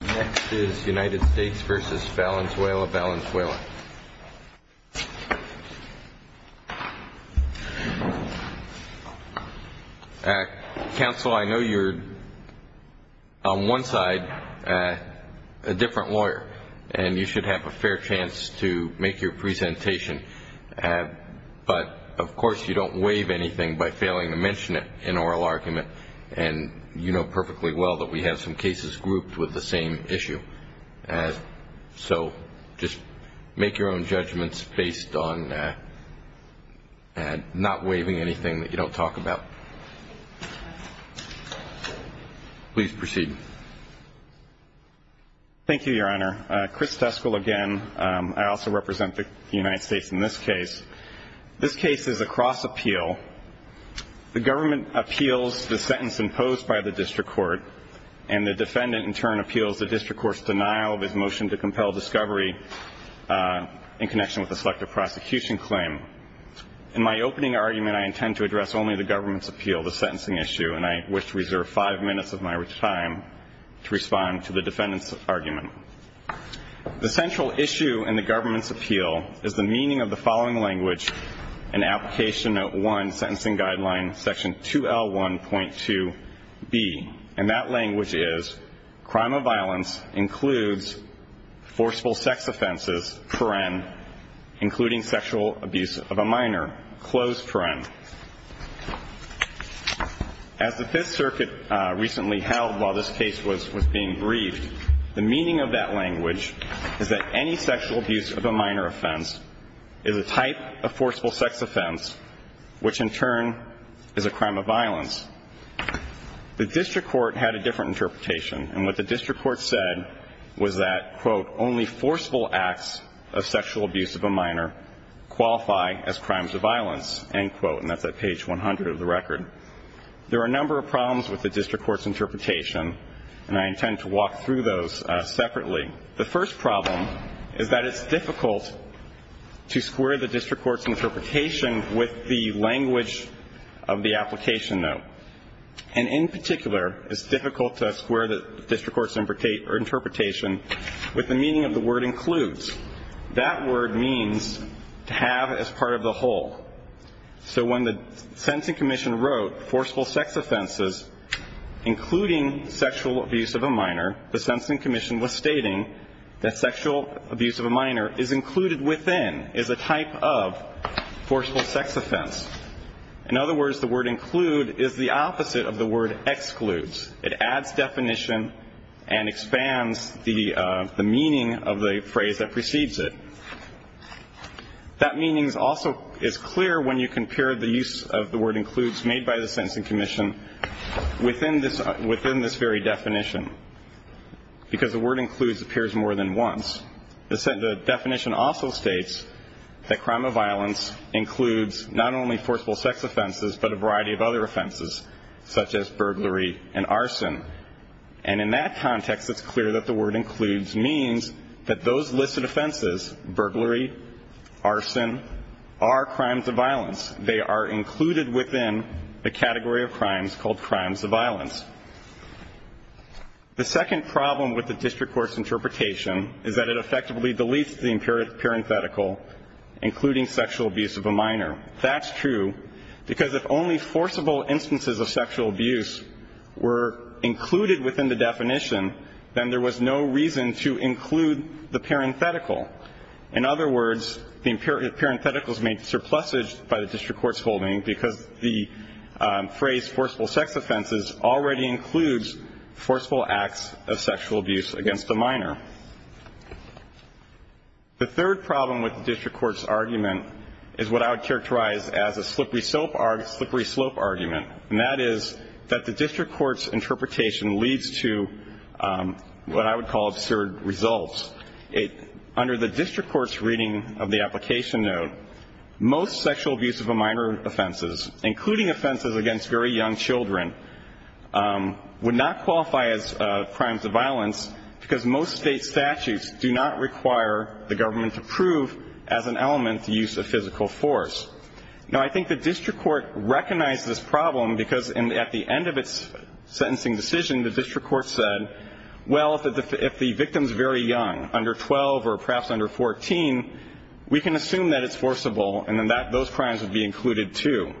Next is United States v. Valenzuela, Valenzuela. Counsel, I know you're, on one side, a different lawyer, and you should have a fair chance to make your presentation. But, of course, you don't waive anything by failing to mention it in oral argument, and you know perfectly well that we have some cases grouped with the same issue. So just make your own judgments based on not waiving anything that you don't talk about. Please proceed. Thank you, Your Honor. Chris Teskel again. I also represent the United States in this case. This case is a cross appeal. The government appeals the sentence imposed by the district court, and the defendant in turn appeals the district court's denial of his motion to compel discovery in connection with the selective prosecution claim. In my opening argument, I intend to address only the government's appeal, the sentencing issue, and I wish to reserve five minutes of my time to respond to the defendant's argument. The central issue in the government's appeal is the meaning of the following language in Application Note 1, Sentencing Guideline Section 2L1.2b, and that language is crime of violence includes forceful sex offenses, including sexual abuse of a minor. As the Fifth Circuit recently held while this case was being briefed, the meaning of that language is that any sexual abuse of a minor offense is a type of forceful sex offense, which in turn is a crime of violence. The district court had a different interpretation, and what the district court said was that, quote, only forceful acts of sexual abuse of a minor qualify as crimes of violence, end quote, and that's at page 100 of the record. There are a number of problems with the district court's interpretation, and I intend to walk through those separately. The first problem is that it's difficult to square the district court's interpretation with the language of the application note, and in particular it's difficult to square the district court's interpretation with the meaning of the word includes. That word means to have as part of the whole. So when the Sentencing Commission wrote forceful sex offenses, including sexual abuse of a minor, the Sentencing Commission was stating that sexual abuse of a minor is included within, is a type of forceful sex offense. In other words, the word include is the opposite of the word excludes. It adds definition and expands the meaning of the phrase that precedes it. That meaning also is clear when you compare the use of the word includes made by the Sentencing Commission within this very definition, because the word includes appears more than once. The definition also states that crime of violence includes not only forceful sex offenses but a variety of other offenses, such as burglary and arson, and in that context it's clear that the word includes means that those listed offenses, burglary, arson, are crimes of violence. They are included within the category of crimes called crimes of violence. The second problem with the district court's interpretation is that it effectively deletes the parenthetical including sexual abuse of a minor. That's true, because if only forcible instances of sexual abuse were included within the definition, then there was no reason to include the parenthetical. In other words, the parenthetical is made surplusage by the district court's holding because the phrase forceful sex offenses already includes forceful acts of sexual abuse against a minor. The third problem with the district court's argument is what I would characterize as a slippery slope argument, and that is that the district court's interpretation leads to what I would call absurd results. Under the district court's reading of the application note, most sexual abuse of a minor offenses, including offenses against very young children, would not qualify as crimes of violence because most state statutes do not require the government to prove as an element the use of physical force. Now, I think the district court recognized this problem because at the end of its sentencing decision, the district court said, well, if the victim is very young, under 12 or perhaps under 14, we can assume that it's forcible and then those crimes would be included, too.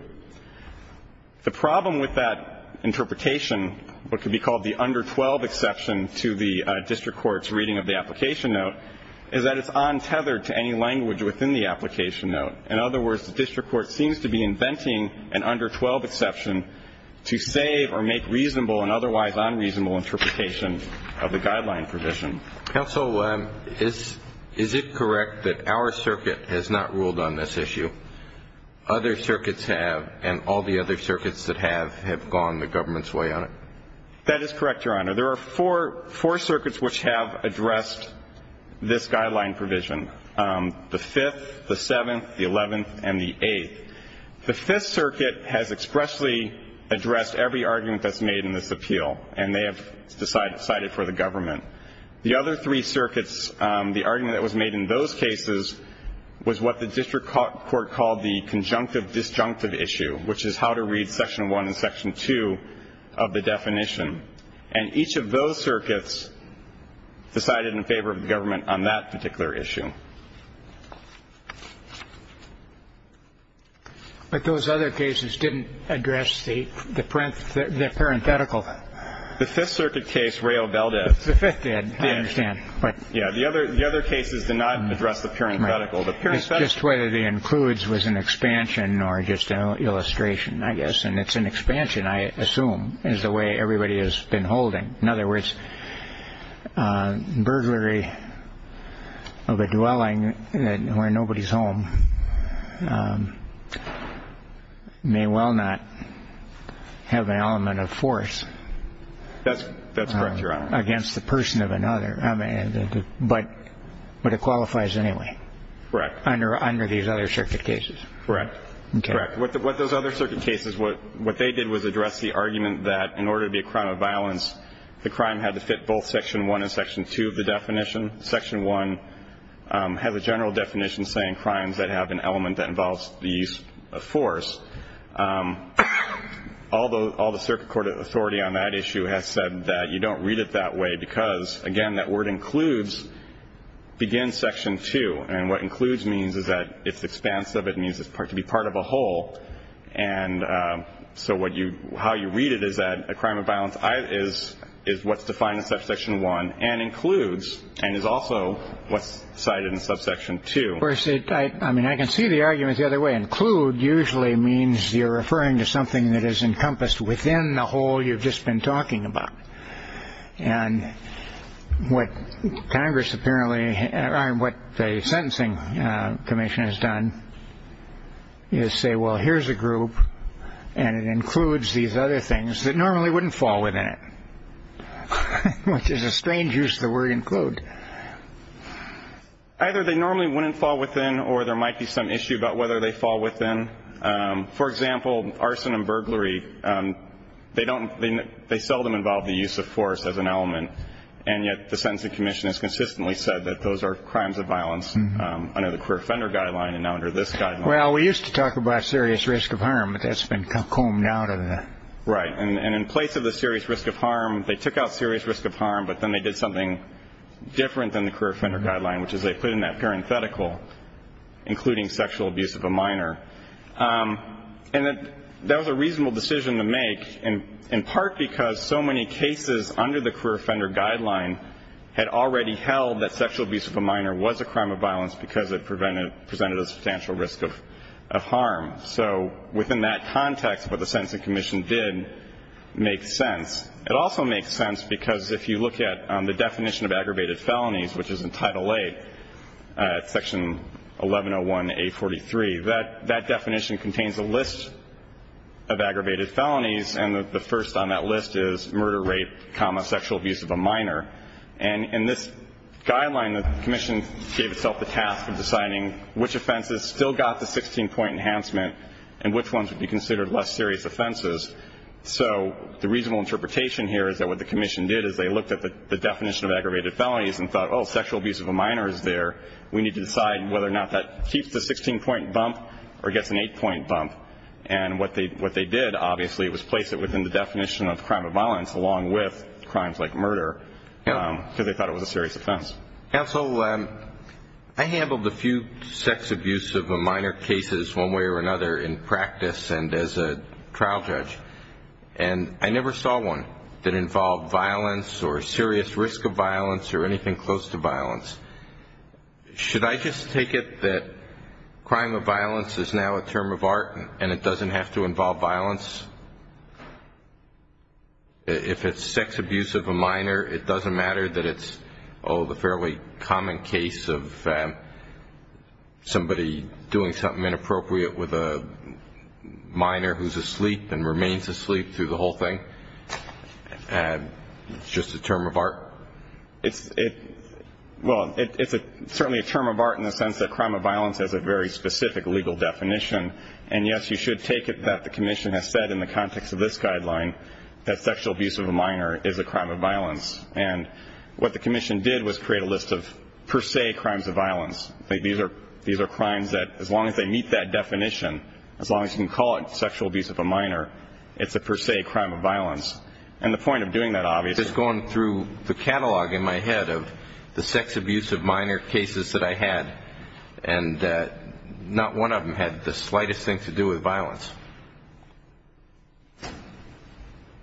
The problem with that interpretation, what could be called the under 12 exception to the district court's reading of the application note, is that it's untethered to any language within the application note. In other words, the district court seems to be inventing an under 12 exception to save or make reasonable and otherwise unreasonable interpretations of the guideline provision. Counsel, is it correct that our circuit has not ruled on this issue? Other circuits have, and all the other circuits that have have gone the government's way on it. That is correct, Your Honor. There are four circuits which have addressed this guideline provision. The 5th, the 7th, the 11th, and the 8th. The 5th circuit has expressly addressed every argument that's made in this appeal, and they have decided for the government. The other three circuits, the argument that was made in those cases, was what the district court called the conjunctive disjunctive issue, which is how to read section 1 and section 2 of the definition. And each of those circuits decided in favor of the government on that particular issue. But those other cases didn't address the parenthetical. The 5th circuit case, Rao-Beldad. The 5th did, I understand. Yeah, the other cases did not address the parenthetical. Just whether the includes was an expansion or just an illustration, I guess, and it's an expansion, I assume, is the way everybody has been holding. In other words, burglary of a dwelling where nobody's home may well not have an element of force. That's correct, Your Honor. Against the person of another, but it qualifies anyway. Correct. Under these other circuit cases. Correct. Correct. What those other circuit cases, what they did was address the argument that in order to be a crime of violence, the crime had to fit both section 1 and section 2 of the definition. Section 1 has a general definition saying crimes that have an element that involves the use of force. Although all the circuit court authority on that issue has said that you don't read it that way because, again, that word includes begins section 2. And what includes means is that it's expansive. It means it's to be part of a whole. And so how you read it is that a crime of violence is what's defined in subsection 1 and includes and is also what's cited in subsection 2. I mean, I can see the argument the other way. Include usually means you're referring to something that is encompassed within the whole you've just been talking about. And what Congress apparently what the sentencing commission has done is say, well, here's a group. And it includes these other things that normally wouldn't fall within it, which is a strange use of the word include. Either they normally wouldn't fall within or there might be some issue about whether they fall within, for example, arson and burglary. They don't. They seldom involve the use of force as an element. And yet the sentencing commission has consistently said that those are crimes of violence under the career offender guideline. And now under this guy. Well, we used to talk about serious risk of harm, but that's been combed out. Right. And in place of the serious risk of harm, they took out serious risk of harm, but then they did something different than the career offender guideline, which is they put in that parenthetical, including sexual abuse of a minor. And that was a reasonable decision to make, in part because so many cases under the career offender guideline had already held that sexual abuse of a minor was a crime of violence because it presented a substantial risk of harm. So within that context, what the sentencing commission did make sense. It also makes sense because if you look at the definition of aggravated felonies, which is in Title VIII, Section 1101A43, that definition contains a list of aggravated felonies, and the first on that list is murder, rape, comma, sexual abuse of a minor. And in this guideline, the commission gave itself the task of deciding which offenses still got the 16-point enhancement and which ones would be considered less serious offenses. So the reasonable interpretation here is that what the commission did is they looked at the definition of aggravated felonies and thought, oh, sexual abuse of a minor is there. We need to decide whether or not that keeps the 16-point bump or gets an 8-point bump. And what they did, obviously, was place it within the definition of crime of violence along with crimes like murder because they thought it was a serious offense. Counsel, I handled a few sex abuse of a minor cases one way or another in practice and as a trial judge, and I never saw one that involved violence or serious risk of violence or anything close to violence. Should I just take it that crime of violence is now a term of art and it doesn't have to involve violence? If it's sex abuse of a minor, it doesn't matter that it's, oh, the fairly common case of somebody doing something inappropriate with a minor who's asleep and remains asleep through the whole thing, it's just a term of art? Well, it's certainly a term of art in the sense that crime of violence has a very specific legal definition. And, yes, you should take it that the commission has said in the context of this guideline that sexual abuse of a minor is a crime of violence. And what the commission did was create a list of per se crimes of violence. These are crimes that as long as they meet that definition, as long as you can call it sexual abuse of a minor, it's a per se crime of violence. And the point of doing that obviously is going through the catalog in my head of the sex abuse of minor cases that I had and not one of them had the slightest thing to do with violence.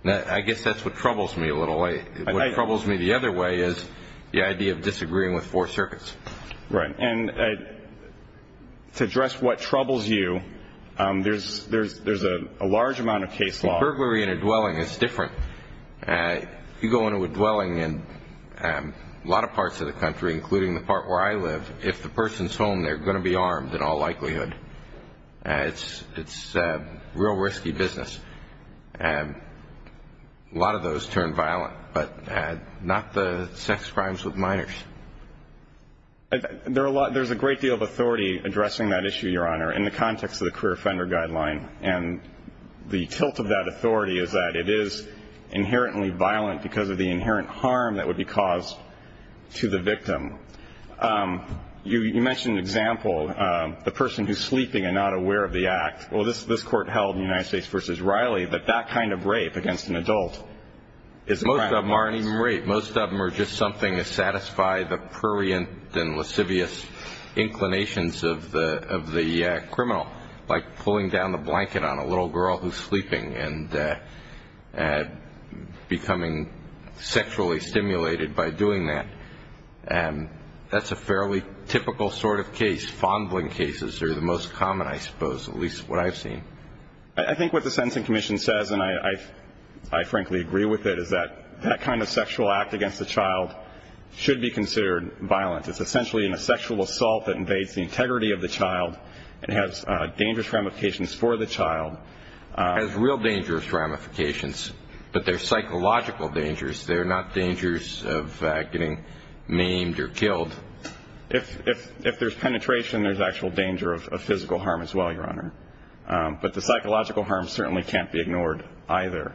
I guess that's what troubles me a little. What troubles me the other way is the idea of disagreeing with four circuits. Right. And to address what troubles you, there's a large amount of case law. Burglary in a dwelling is different. You go into a dwelling in a lot of parts of the country, including the part where I live, if the person's home they're going to be armed in all likelihood. It's real risky business. A lot of those turn violent, but not the sex crimes with minors. There's a great deal of authority addressing that issue, Your Honor, in the context of the career offender guideline. And the tilt of that authority is that it is inherently violent because of the inherent harm that would be caused to the victim. You mentioned an example, the person who's sleeping and not aware of the act. Well, this court held in the United States v. Riley that that kind of rape against an adult is a crime. Most of them aren't even rape. Most of them are just something to satisfy the prurient and lascivious inclinations of the criminal, like pulling down the blanket on a little girl who's sleeping and becoming sexually stimulated by doing that. That's a fairly typical sort of case. Fondling cases are the most common, I suppose, at least what I've seen. I think what the Sentencing Commission says, and I frankly agree with it, is that that kind of sexual act against a child should be considered violent. It's essentially a sexual assault that invades the integrity of the child and has dangerous ramifications for the child. It has real dangerous ramifications, but they're psychological dangers. They're not dangers of getting maimed or killed. If there's penetration, there's actual danger of physical harm as well, Your Honor. But the psychological harm certainly can't be ignored either.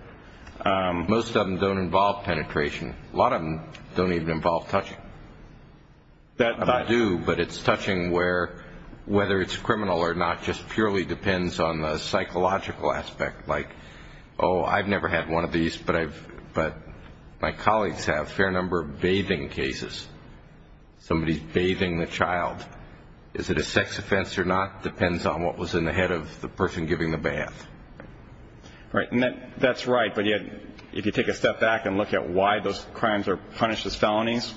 Most of them don't involve penetration. A lot of them don't even involve touching. I do, but it's touching where, whether it's criminal or not, just purely depends on the psychological aspect, like, oh, I've never had one of these, but my colleagues have a fair number of bathing cases. Somebody's bathing the child. Is it a sex offense or not depends on what was in the head of the person giving the bath. Right, and that's right, but yet if you take a step back and look at why those crimes are punished as felonies,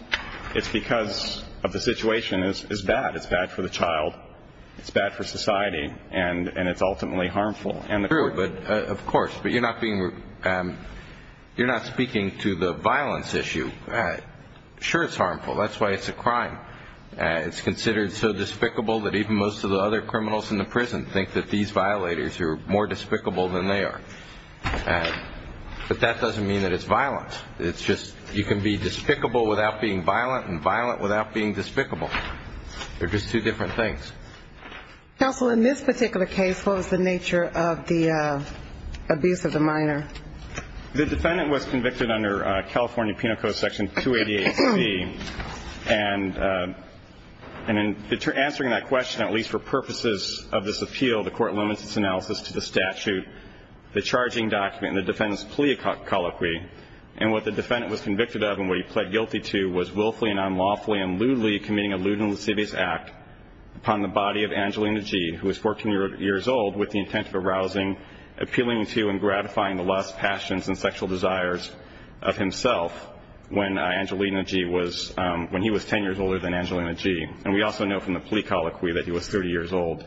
it's because the situation is bad. It's bad for the child, it's bad for society, and it's ultimately harmful. Of course, but you're not speaking to the violence issue. Sure, it's harmful. That's why it's a crime. It's considered so despicable that even most of the other criminals in the prison think that these violators are more despicable than they are. But that doesn't mean that it's violence. It's just you can be despicable without being violent and violent without being despicable. They're just two different things. Counsel, in this particular case, what was the nature of the abuse of the minor? The defendant was convicted under California Penal Code Section 288C, and in answering that question, at least for purposes of this appeal, the court limits its analysis to the statute, the charging document, and the defendant's plea colloquy. And what the defendant was convicted of and what he pled guilty to was willfully and unlawfully and lewdly committing a lewd and lascivious act upon the body of Angelina G., who was 14 years old with the intent of arousing, appealing to, and gratifying the lusts, passions, and sexual desires of himself when Angelina G. was 10 years older than Angelina G. And we also know from the plea colloquy that he was 30 years old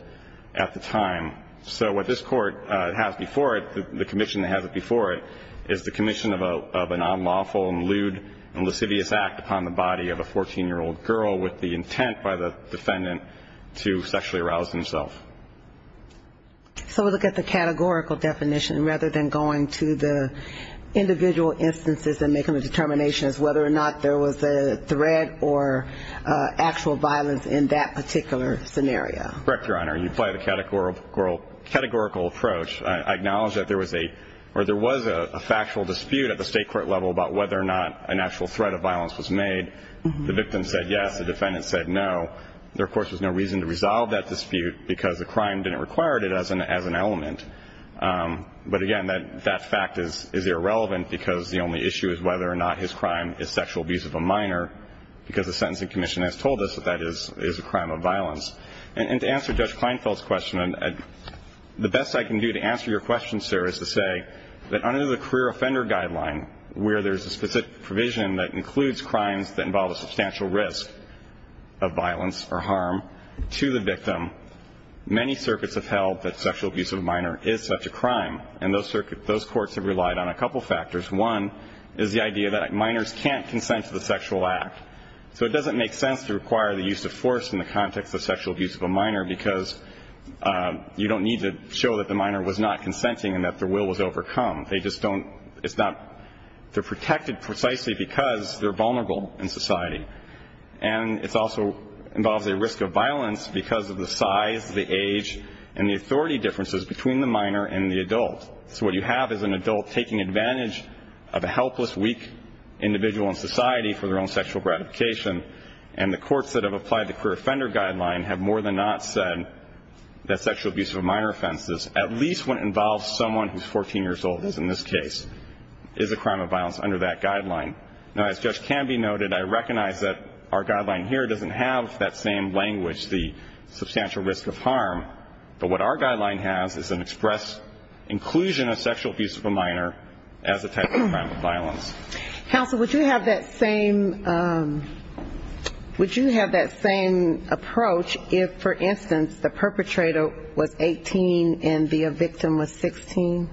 at the time. So what this court has before it, the commission that has it before it, is the commission of a non-lawful and lewd and lascivious act upon the body of a 14-year-old girl with the intent by the defendant to sexually arouse himself. So we'll look at the categorical definition rather than going to the individual instances and making the determinations whether or not there was a threat or actual violence in that particular scenario. Correct, Your Honor. You apply the categorical approach. I acknowledge that there was a factual dispute at the state court level about whether or not an actual threat of violence was made. The victim said yes. The defendant said no. There, of course, was no reason to resolve that dispute because the crime didn't require it as an element. But, again, that fact is irrelevant because the only issue is whether or not his crime is sexual abuse of a minor because the Sentencing Commission has told us that that is a crime of violence. And to answer Judge Kleinfeld's question, the best I can do to answer your question, sir, is to say that under the career offender guideline, where there's a specific provision that includes crimes that involve a substantial risk of violence or harm to the victim, many circuits have held that sexual abuse of a minor is such a crime. And those courts have relied on a couple factors. One is the idea that minors can't consent to the sexual act. So it doesn't make sense to require the use of force in the context of sexual abuse of a minor because you don't need to show that the minor was not consenting and that their will was overcome. They just don't – it's not – they're protected precisely because they're vulnerable in society. And it also involves a risk of violence because of the size, the age, and the authority differences between the minor and the adult. So what you have is an adult taking advantage of a helpless, weak individual in society for their own sexual gratification. And the courts that have applied the career offender guideline have more than not said that sexual abuse of a minor offense, at least when it involves someone who's 14 years old, as in this case, is a crime of violence under that guideline. Now, as Judge Canby noted, I recognize that our guideline here doesn't have that same language, the substantial risk of harm. But what our guideline has is an express inclusion of sexual abuse of a minor as a type of crime of violence. Counsel, would you have that same – would you have that same approach if, for instance, the perpetrator was 18 and the victim was 16?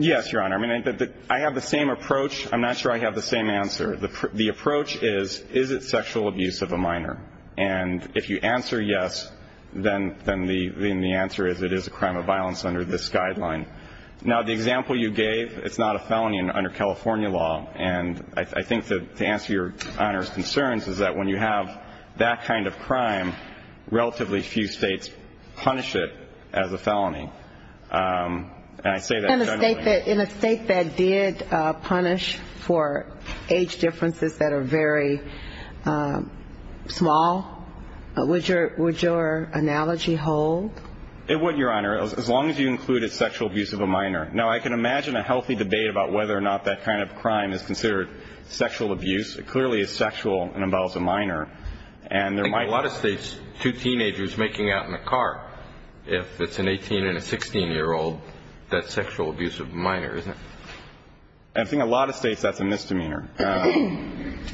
Yes, Your Honor. I mean, I have the same approach. I'm not sure I have the same answer. And if you answer yes, then the answer is it is a crime of violence under this guideline. Now, the example you gave, it's not a felony under California law. And I think to answer Your Honor's concerns is that when you have that kind of crime, relatively few states punish it as a felony. And I say that generally. In a state that did punish for age differences that are very small, would your analogy hold? It would, Your Honor, as long as you included sexual abuse of a minor. Now, I can imagine a healthy debate about whether or not that kind of crime is considered sexual abuse. It clearly is sexual and involves a minor. In a lot of states, two teenagers making out in a car, if it's an 18 and a 16-year-old, that's sexual abuse of a minor, isn't it? I think in a lot of states that's a misdemeanor. A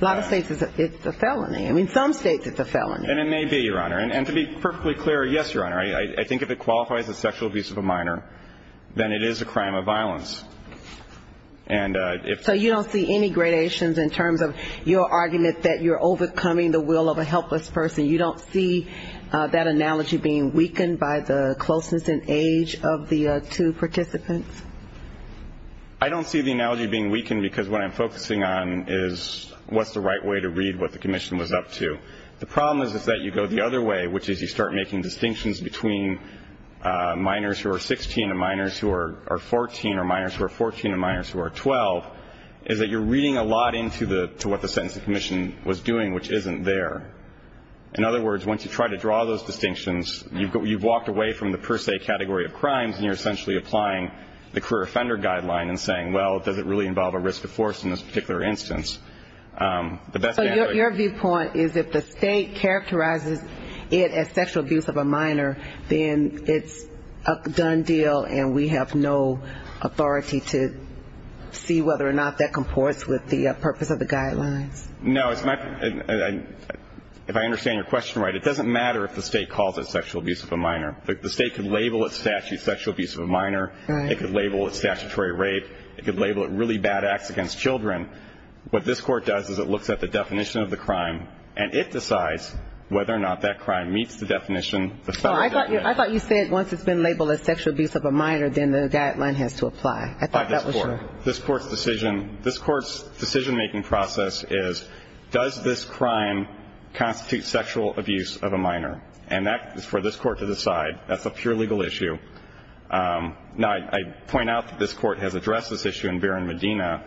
lot of states it's a felony. I mean, some states it's a felony. And it may be, Your Honor. And to be perfectly clear, yes, Your Honor, I think if it qualifies as sexual abuse of a minor, then it is a crime of violence. So you don't see any gradations in terms of your argument that you're overcoming the will of a helpless person? You don't see that analogy being weakened by the closeness in age of the two participants? I don't see the analogy being weakened because what I'm focusing on is what's the right way to read what the commission was up to. The problem is that you go the other way, which is you start making distinctions between minors who are 16 and minors who are 14 or minors who are 14 and minors who are 12, is that you're reading a lot into what the sentencing commission was doing, which isn't there. In other words, once you try to draw those distinctions, you've walked away from the per se category of crimes, and you're essentially applying the career offender guideline and saying, well, does it really involve a risk of force in this particular instance? So your viewpoint is if the state characterizes it as sexual abuse of a minor, then it's a done deal and we have no authority to see whether or not that comports with the purpose of the guidelines? No. If I understand your question right, it doesn't matter if the state calls it sexual abuse of a minor. The state could label it sexual abuse of a minor. It could label it statutory rape. It could label it really bad acts against children. What this court does is it looks at the definition of the crime, and it decides whether or not that crime meets the definition of the federal definition. I thought you said once it's been labeled as sexual abuse of a minor, then the guideline has to apply. I thought that was true. By this court. This court's decision-making process is does this crime constitute sexual abuse of a minor? And that is for this court to decide. That's a pure legal issue. Now, I point out that this court has addressed this issue in Barron-Medina,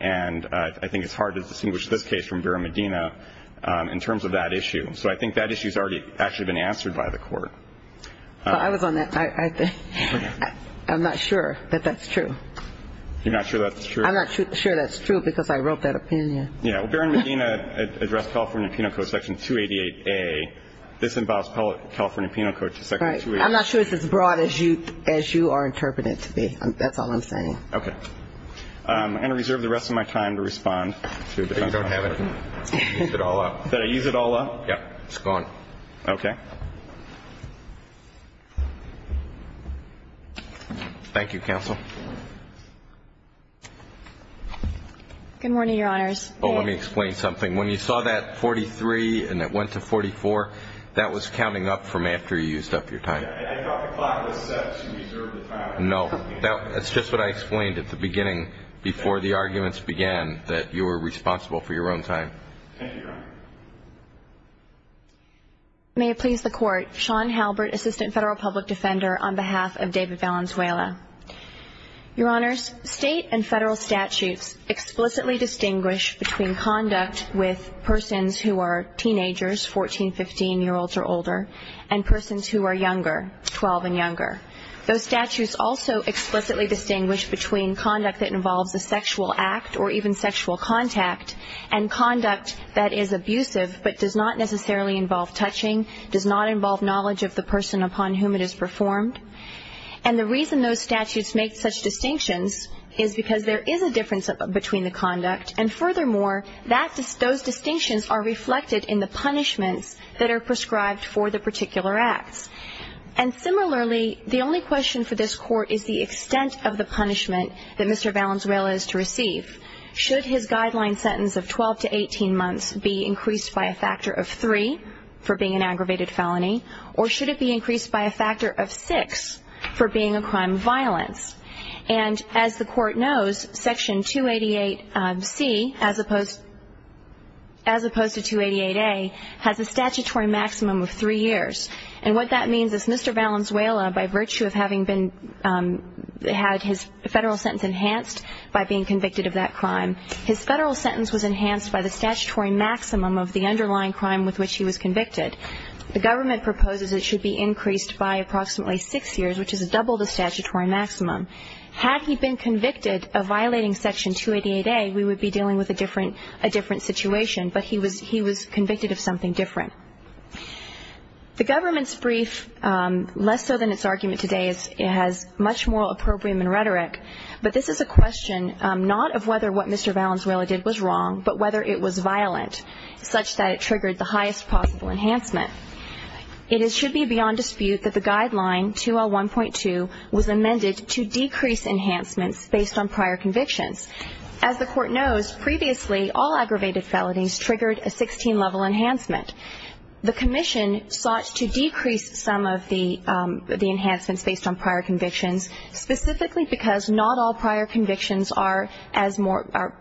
and I think it's hard to distinguish this case from Barron-Medina in terms of that issue. So I think that issue has actually been answered by the court. I was on that. I'm not sure that that's true. You're not sure that's true? I'm not sure that's true because I wrote that opinion. Yeah, well, Barron-Medina addressed California Penal Code Section 288A. This involves California Penal Code Section 288A. I'm not sure it's as broad as you are interpreting it to be. That's all I'm saying. Okay. I'm going to reserve the rest of my time to respond. You don't have it. Use it all up. Did I use it all up? Yeah, it's gone. Okay. Thank you, counsel. Good morning, Your Honors. Oh, let me explain something. When you saw that 43 and it went to 44, that was counting up from after you used up your time. I thought the clock was set to reserve the time. No. That's just what I explained at the beginning before the arguments began, that you were responsible for your own time. Thank you, Your Honor. May it please the Court, Sean Halbert, Assistant Federal Public Defender, on behalf of David Valenzuela. Your Honors, State and Federal statutes explicitly distinguish between conduct with persons who are teenagers, 14, 15-year-olds or older, and persons who are younger, 12 and younger. Those statutes also explicitly distinguish between conduct that involves a sexual act or even sexual contact and conduct that is abusive but does not necessarily involve touching, does not involve knowledge of the person upon whom it is performed. And the reason those statutes make such distinctions is because there is a difference between the conduct and furthermore, those distinctions are reflected in the punishments that are prescribed for the particular acts. And similarly, the only question for this Court is the extent of the punishment that Mr. Valenzuela is to receive. Should his guideline sentence of 12 to 18 months be increased by a factor of three for being an aggravated felony or should it be increased by a factor of six for being a crime of violence? And as the Court knows, Section 288C, as opposed to 288A, has a statutory maximum of three years. And what that means is Mr. Valenzuela, by virtue of having had his federal sentence enhanced by being convicted of that crime, his federal sentence was enhanced by the statutory maximum of the underlying crime with which he was convicted. The government proposes it should be increased by approximately six years, which is double the statutory maximum. Had he been convicted of violating Section 288A, we would be dealing with a different situation, but he was convicted of something different. The government's brief, less so than its argument today, has much more opprobrium and rhetoric, but this is a question not of whether what Mr. Valenzuela did was wrong but whether it was violent, such that it triggered the highest possible enhancement. It should be beyond dispute that the guideline, 2L1.2, was amended to decrease enhancements based on prior convictions. As the Court knows, previously, all aggravated felonies triggered a 16-level enhancement. The Commission sought to decrease some of the enhancements based on prior convictions, specifically because not all prior convictions are as more or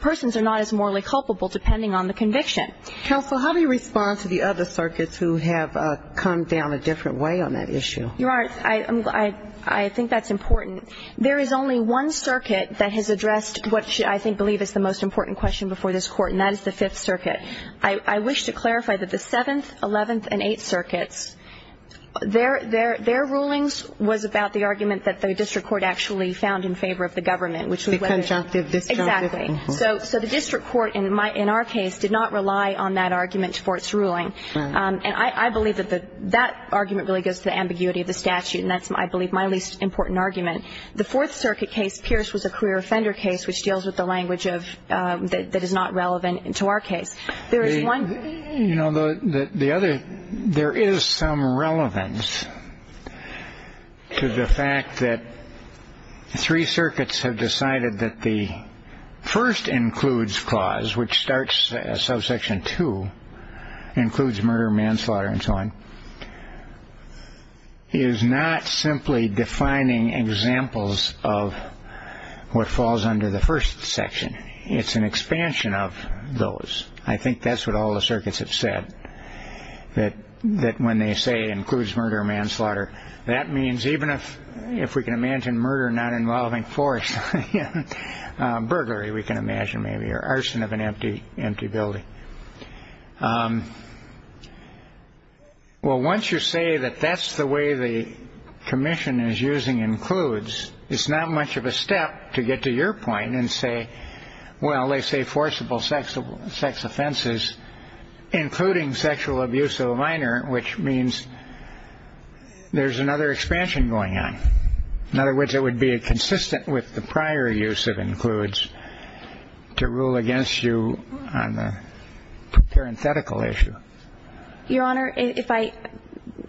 persons are not as morally culpable, depending on the conviction. Counsel, how do you respond to the other circuits who have come down a different way on that issue? Your Honor, I think that's important. There is only one circuit that has addressed what I believe is the most important question before this Court, and that is the Fifth Circuit. I wish to clarify that the Seventh, Eleventh, and Eighth Circuits, their rulings was about the argument that the district court actually found in favor of the government, which was whether they were. The conjunctive, disjunctive. Exactly. So the district court, in our case, did not rely on that argument for its ruling. And I believe that that argument really goes to the ambiguity of the statute, and that's, I believe, my least important argument. The Fourth Circuit case, Pierce, was a career offender case, which deals with the language that is not relevant to our case. There is one. You know, the other, there is some relevance to the fact that three circuits have decided that the first includes clause, which starts subsection two, includes murder, manslaughter, and so on, is not simply defining examples of what falls under the first section. It's an expansion of those. I think that's what all the circuits have said, that when they say it includes murder or manslaughter, that means even if we can imagine murder not involving force, burglary we can imagine maybe, or arson of an empty building. Well, once you say that that's the way the commission is using includes, it's not much of a step to get to your point and say, well, they say forcible sex offenses, including sexual abuse of a minor, which means there's another expansion going on. In other words, it would be consistent with the prior use of includes to rule against you on the parenthetical issue. Your Honor, if I,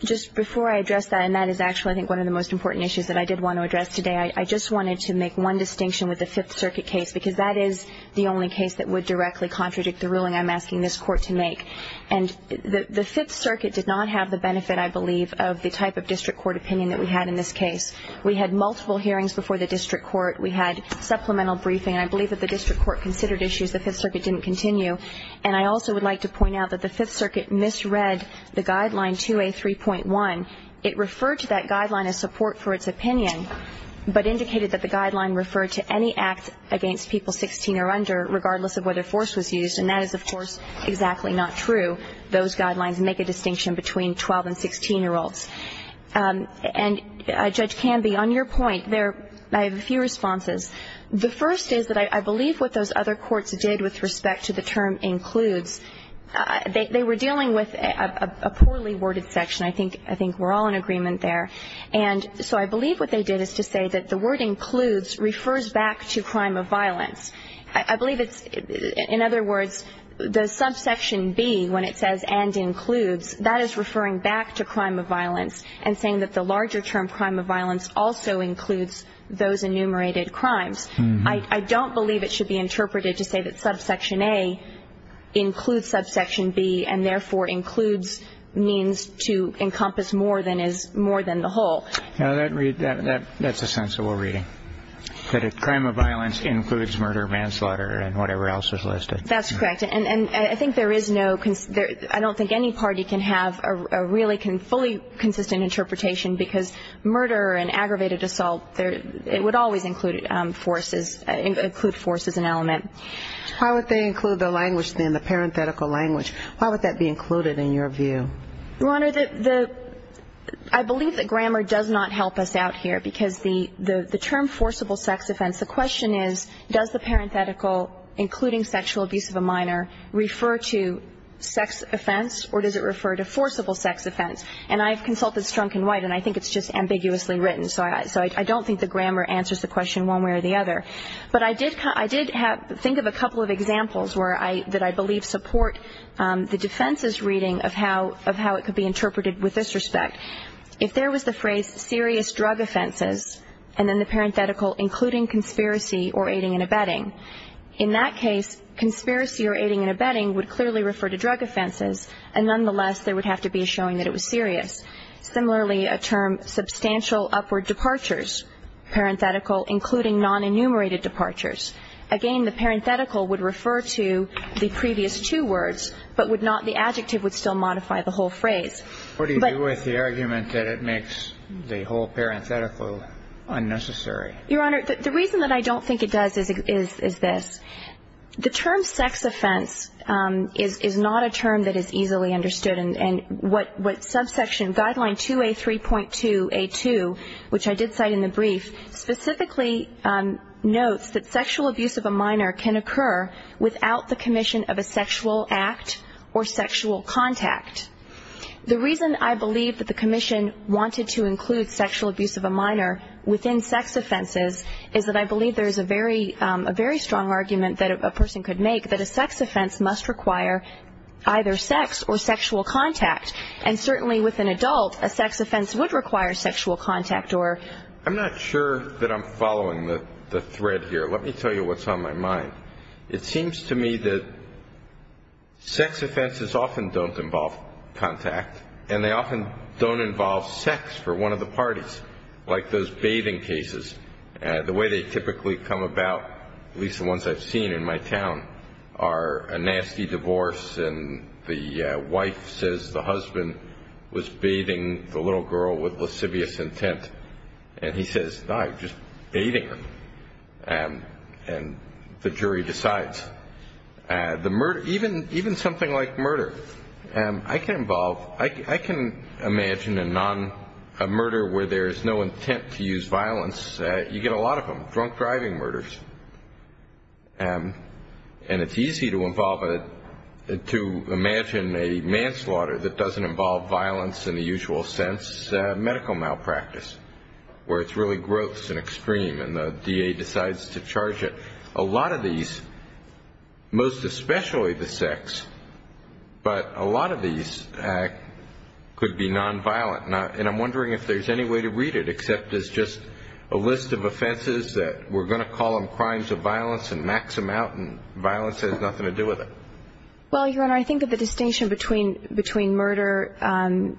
just before I address that, and that is actually, I think, one of the most important issues that I did want to address today, I just wanted to make one distinction with the Fifth Circuit case, because that is the only case that would directly contradict the ruling I'm asking this Court to make. And the Fifth Circuit did not have the benefit, I believe, of the type of district court opinion that we had in this case. We had multiple hearings before the district court. We had supplemental briefing. I believe that the district court considered issues the Fifth Circuit didn't continue. And I also would like to point out that the Fifth Circuit misread the guideline 2A3.1. It referred to that guideline as support for its opinion, but indicated that the guideline referred to any act against people 16 or under, regardless of whether force was used. And that is, of course, exactly not true. Those guidelines make a distinction between 12- and 16-year-olds. And, Judge Canby, on your point there, I have a few responses. The first is that I believe what those other courts did with respect to the term includes, they were dealing with a poorly worded section. I think we're all in agreement there. And so I believe what they did is to say that the word includes refers back to crime of violence. I believe it's, in other words, the subsection B, when it says and includes, that is referring back to crime of violence and saying that the larger term crime of violence also includes those enumerated crimes. I don't believe it should be interpreted to say that subsection A includes subsection B and therefore includes means to encompass more than the whole. That's a sensible reading. That a crime of violence includes murder, manslaughter, and whatever else is listed. That's correct. And I think there is no ‑‑ I don't think any party can have a really fully consistent interpretation because murder and aggravated assault would always include force as an element. Why would they include the language then, the parenthetical language? Why would that be included in your view? Your Honor, I believe that grammar does not help us out here because the term forcible sex offense, the question is, does the parenthetical including sexual abuse of a minor refer to sex offense or does it refer to forcible sex offense? And I've consulted Strunk and White and I think it's just ambiguously written. So I don't think the grammar answers the question one way or the other. But I did think of a couple of examples that I believe support the defense's reading of how it could be interpreted with this respect. If there was the phrase serious drug offenses and then the parenthetical including conspiracy or aiding and abetting, in that case conspiracy or aiding and abetting would clearly refer to drug offenses and nonetheless there would have to be a showing that it was serious. Similarly, a term substantial upward departures, parenthetical including non‑enumerated departures. Again, the parenthetical would refer to the previous two words but the adjective would still modify the whole phrase. What do you do with the argument that it makes the whole parenthetical unnecessary? Your Honor, the reason that I don't think it does is this. The term sex offense is not a term that is easily understood and what subsection guideline 2A3.2A2, which I did cite in the brief, specifically notes that sexual abuse of a minor can occur without the commission of a sexual act or sexual contact. The reason I believe that the commission wanted to include sexual abuse of a minor within sex offenses is that I believe there is a very strong argument that a person could make that a sex offense must require either sex or sexual contact and certainly with an adult a sex offense would require sexual contact or ‑‑ I'm not sure that I'm following the thread here. Let me tell you what's on my mind. It seems to me that sex offenses often don't involve contact and they often don't involve sex for one of the parties, like those bathing cases. The way they typically come about, at least the ones I've seen in my town, are a nasty divorce and the wife says the husband was bathing the little girl with lascivious intent and he says, no, I'm just bathing her. And the jury decides. Even something like murder. I can imagine a murder where there is no intent to use violence. You get a lot of them, drunk driving murders. And it's easy to imagine a manslaughter that doesn't involve violence in the usual sense, as medical malpractice where it's really gross and extreme and the DA decides to charge it. A lot of these, most especially the sex, but a lot of these could be nonviolent. And I'm wondering if there's any way to read it except as just a list of offenses that we're going to call them crimes of violence and max them out and violence has nothing to do with it. Well, Your Honor, I think that the distinction between murder and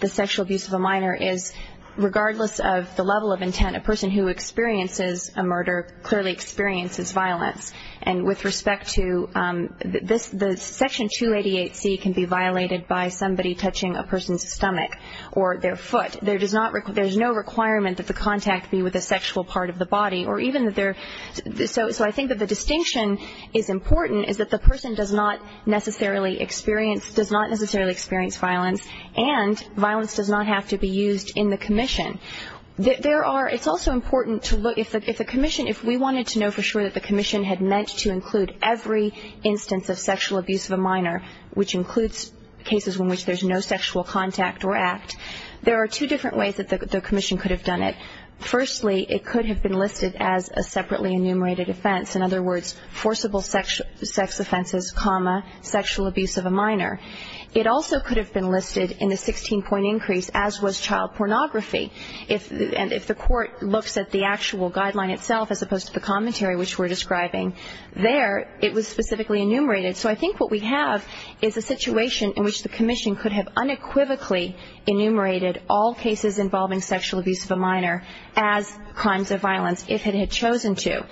the sexual abuse of a minor is, regardless of the level of intent, a person who experiences a murder clearly experiences violence. And with respect to the Section 288C can be violated by somebody touching a person's stomach or their foot. There's no requirement that the contact be with a sexual part of the body. So I think that the distinction is important is that the person does not necessarily experience violence and violence does not have to be used in the commission. It's also important to look, if the commission, if we wanted to know for sure that the commission had meant to include every instance of sexual abuse of a minor, which includes cases in which there's no sexual contact or act, there are two different ways that the commission could have done it. Firstly, it could have been listed as a separately enumerated offense. In other words, forcible sex offenses, comma, sexual abuse of a minor. It also could have been listed in the 16-point increase, as was child pornography. And if the court looks at the actual guideline itself as opposed to the commentary which we're describing, there it was specifically enumerated. So I think what we have is a situation in which the commission could have unequivocally enumerated all cases involving sexual abuse of a minor as crimes of violence if it had chosen to.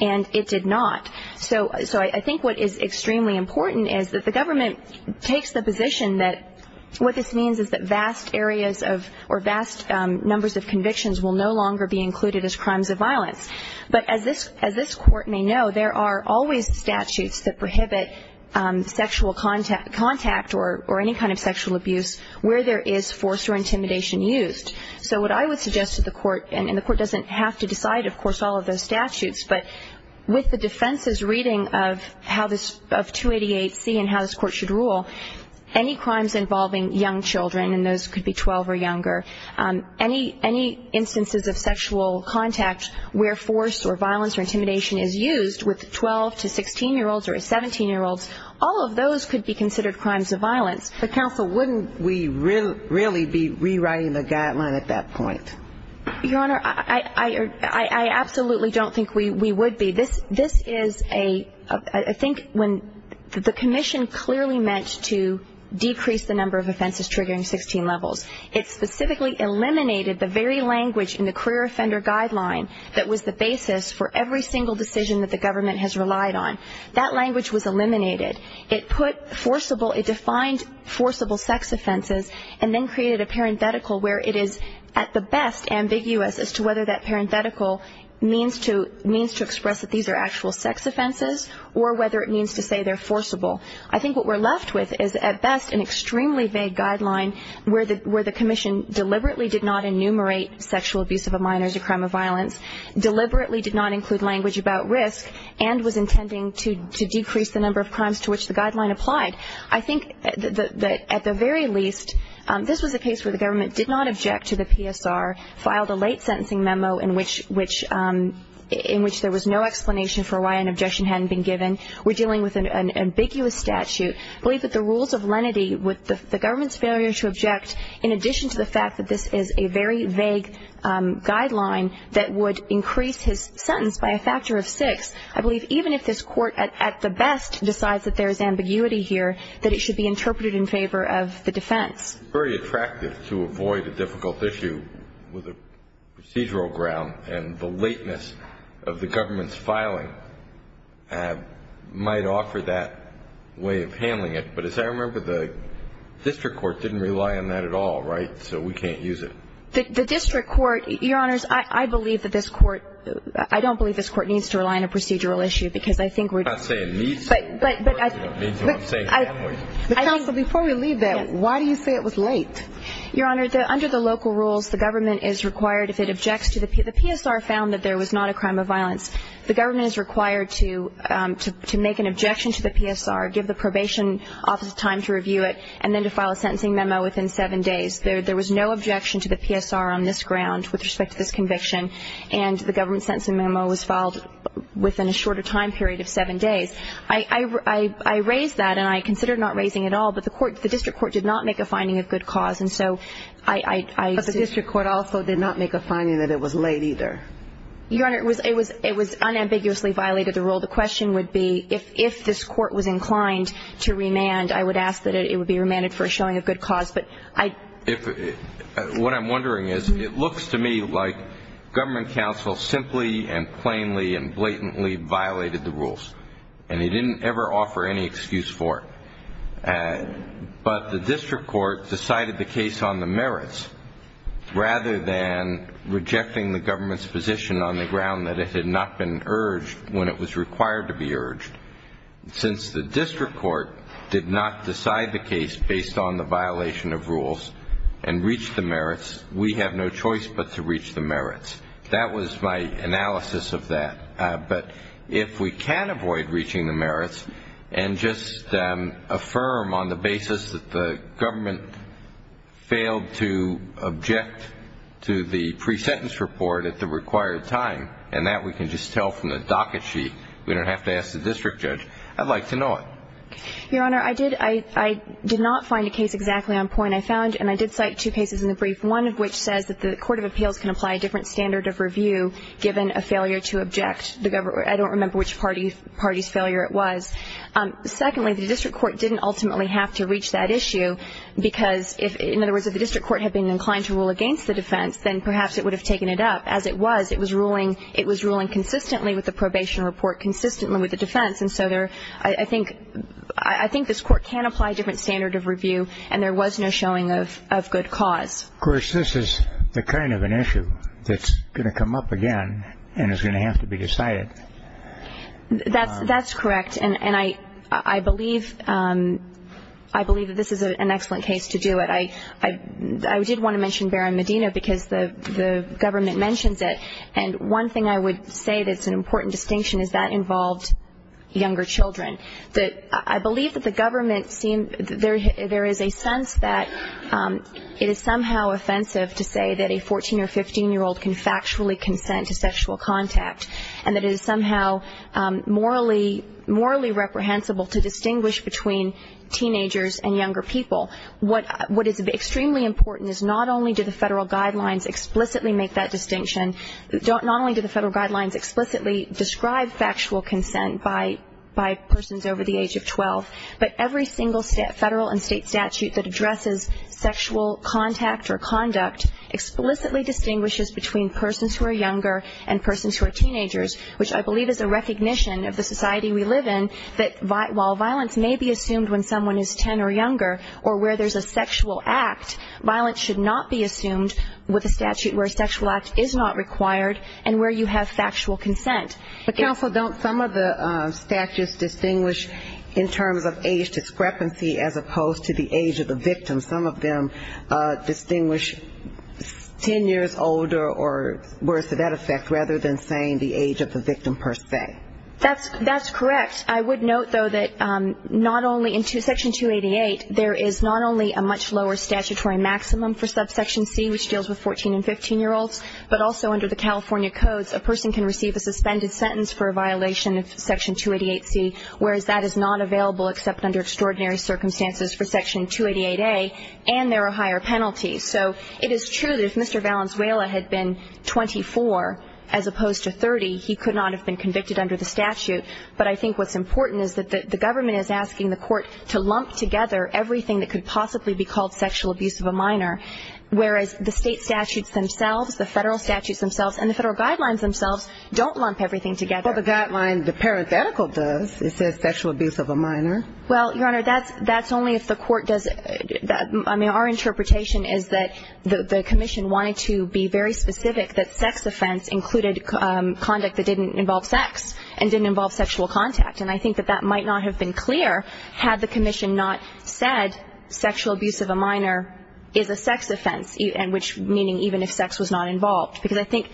And it did not. So I think what is extremely important is that the government takes the position that what this means is that vast areas of or vast numbers of convictions will no longer be included as crimes of violence. But as this court may know, there are always statutes that prohibit sexual contact or any kind of sexual abuse where there is force or intimidation used. So what I would suggest to the court, and the court doesn't have to decide, of course, all of those statutes, but with the defense's reading of 288C and how this court should rule, any crimes involving young children, and those could be 12 or younger, any instances of sexual contact where force or violence or intimidation is used with 12- to 16-year-olds or a 17-year-old, all of those could be considered crimes of violence. But, counsel, wouldn't we really be rewriting the guideline at that point? Your Honor, I absolutely don't think we would be. This is a ‑‑ I think when the commission clearly meant to decrease the number of offenses triggering 16 levels. It specifically eliminated the very language in the career offender guideline that was the basis for every single decision that the government has relied on. That language was eliminated. It put forcible ‑‑ it defined forcible sex offenses and then created a parenthetical where it is at the best ambiguous as to whether that parenthetical means to express that these are actual sex offenses or whether it means to say they're forcible. I think what we're left with is at best an extremely vague guideline where the commission deliberately did not enumerate sexual abuse of a minor as a crime of violence, deliberately did not include language about risk, and was intending to decrease the number of crimes to which the guideline applied. I think that at the very least, this was a case where the government did not object to the PSR, filed a late sentencing memo in which there was no explanation for why an objection hadn't been given. We're dealing with an ambiguous statute. I believe that the rules of lenity with the government's failure to object, in addition to the fact that this is a very vague guideline that would increase his sentence by a factor of six, I believe even if this court at the best decides that there is ambiguity here, that it should be interpreted in favor of the defense. It's very attractive to avoid a difficult issue with a procedural ground and the lateness of the government's filing might offer that way of handling it. But as I remember, the district court didn't rely on that at all, right? So we can't use it. The district court, Your Honors, I believe that this court – I don't believe this court needs to rely on a procedural issue because I think we're – I'm not saying it needs to. But I think – But counsel, before we leave that, why do you say it was late? Your Honor, under the local rules, the government is required if it objects to the – the PSR found that there was not a crime of violence. The government is required to make an objection to the PSR, give the probation office time to review it, and then to file a sentencing memo within seven days. There was no objection to the PSR on this ground with respect to this conviction, and the government sentencing memo was filed within a shorter time period of seven days. I raised that, and I considered not raising it at all, but the court – the district court did not make a finding of good cause. And so I – But the district court also did not make a finding that it was late either. Your Honor, it was – it was unambiguously violated the rule. The question would be if this court was inclined to remand, I would ask that it would be remanded for a showing of good cause. But I – If – what I'm wondering is it looks to me like government counsel simply and plainly and blatantly violated the rules, and he didn't ever offer any excuse for it. But the district court decided the case on the merits rather than rejecting the government's position on the ground that it had not been urged when it was required to be urged. Since the district court did not decide the case based on the violation of rules and reached the merits, we have no choice but to reach the merits. That was my analysis of that. But if we can avoid reaching the merits and just affirm on the basis that the government failed to object to the pre-sentence report at the required time, and that we can just tell from the docket sheet, we don't have to ask the district judge, I'd like to know it. Your Honor, I did – I did not find a case exactly on point. I found – and I did cite two cases in the brief, one of which says that the court of appeals can apply a different standard of review given a failure to object the government. I don't remember which party's failure it was. Secondly, the district court didn't ultimately have to reach that issue because if – in other words, if the district court had been inclined to rule against the defense, then perhaps it would have taken it up. As it was, it was ruling – it was ruling consistently with the probation report, consistently with the defense. And so there – I think – I think this court can apply a different standard of review, and there was no showing of good cause. Of course, this is the kind of an issue that's going to come up again and is going to have to be decided. That's correct, and I believe – I believe that this is an excellent case to do it. I did want to mention Barron Medina because the government mentions it, and one thing I would say that's an important distinction is that involved younger children. I believe that the government – there is a sense that it is somehow offensive to say that a 14- or 15-year-old can factually consent to sexual contact and that it is somehow morally reprehensible to distinguish between teenagers and younger people. What is extremely important is not only do the federal guidelines explicitly make that distinction, not only do the federal guidelines explicitly describe factual consent by persons over the age of 12, but every single federal and state statute that addresses sexual contact or conduct explicitly distinguishes between persons who are younger and persons who are teenagers, which I believe is a recognition of the society we live in that while violence may be assumed when someone is 10 or younger or where there's a sexual act, violence should not be assumed with a statute where a sexual act is not required and where you have factual consent. But counsel, don't some of the statutes distinguish in terms of age discrepancy as opposed to the age of the victim? Some of them distinguish 10 years older or worse to that effect, rather than saying the age of the victim per se. That's correct. I would note, though, that not only in Section 288, there is not only a much lower statutory maximum for subsection C, which deals with 14- and 15-year-olds, but also under the California codes a person can receive a suspended sentence for a violation of Section 288C, whereas that is not available except under extraordinary circumstances for Section 288A, and there are higher penalties. So it is true that if Mr. Valenzuela had been 24 as opposed to 30, he could not have been convicted under the statute. But I think what's important is that the government is asking the court to lump together everything that could possibly be called sexual abuse of a minor, whereas the state statutes themselves, the federal statutes themselves, and the federal guidelines themselves don't lump everything together. Well, the guideline, the parenthetical does. It says sexual abuse of a minor. Well, Your Honor, that's only if the court does it. I mean, our interpretation is that the commission wanted to be very specific that sex offense included conduct that didn't involve sex and didn't involve sexual contact. And I think that that might not have been clear had the commission not said sexual abuse of a minor is a sex offense, meaning even if sex was not involved. Because I think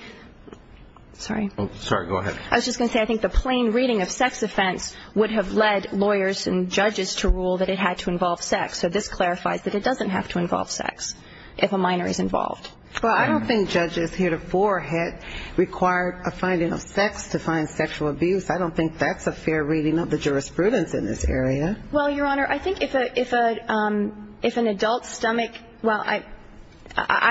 the plain reading of sex offense would have led lawyers and judges to rule that it had to involve sex. So this clarifies that it doesn't have to involve sex if a minor is involved. Well, I don't think judges heretofore had required a finding of sex to find sexual abuse. I don't think that's a fair reading of the jurisprudence in this area. Well, Your Honor, I think if an adult's stomach – well, I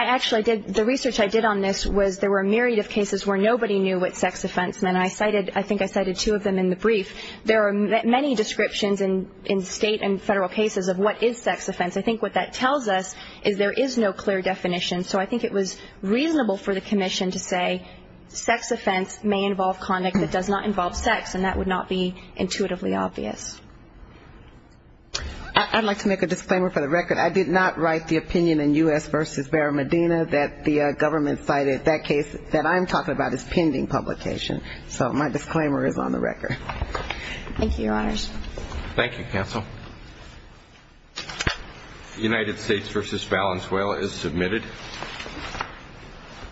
actually did – the research I did on this was there were a myriad of cases where nobody knew what sex offense meant. I cited – I think I cited two of them in the brief. There are many descriptions in state and federal cases of what is sex offense. I think what that tells us is there is no clear definition. So I think it was reasonable for the commission to say sex offense may involve conduct that does not involve sex, and that would not be intuitively obvious. I'd like to make a disclaimer for the record. I did not write the opinion in U.S. v. Vera Medina that the government cited. That case that I'm talking about is pending publication. So my disclaimer is on the record. Thank you, Your Honors. Thank you, counsel. The United States v. Valenzuela is submitted.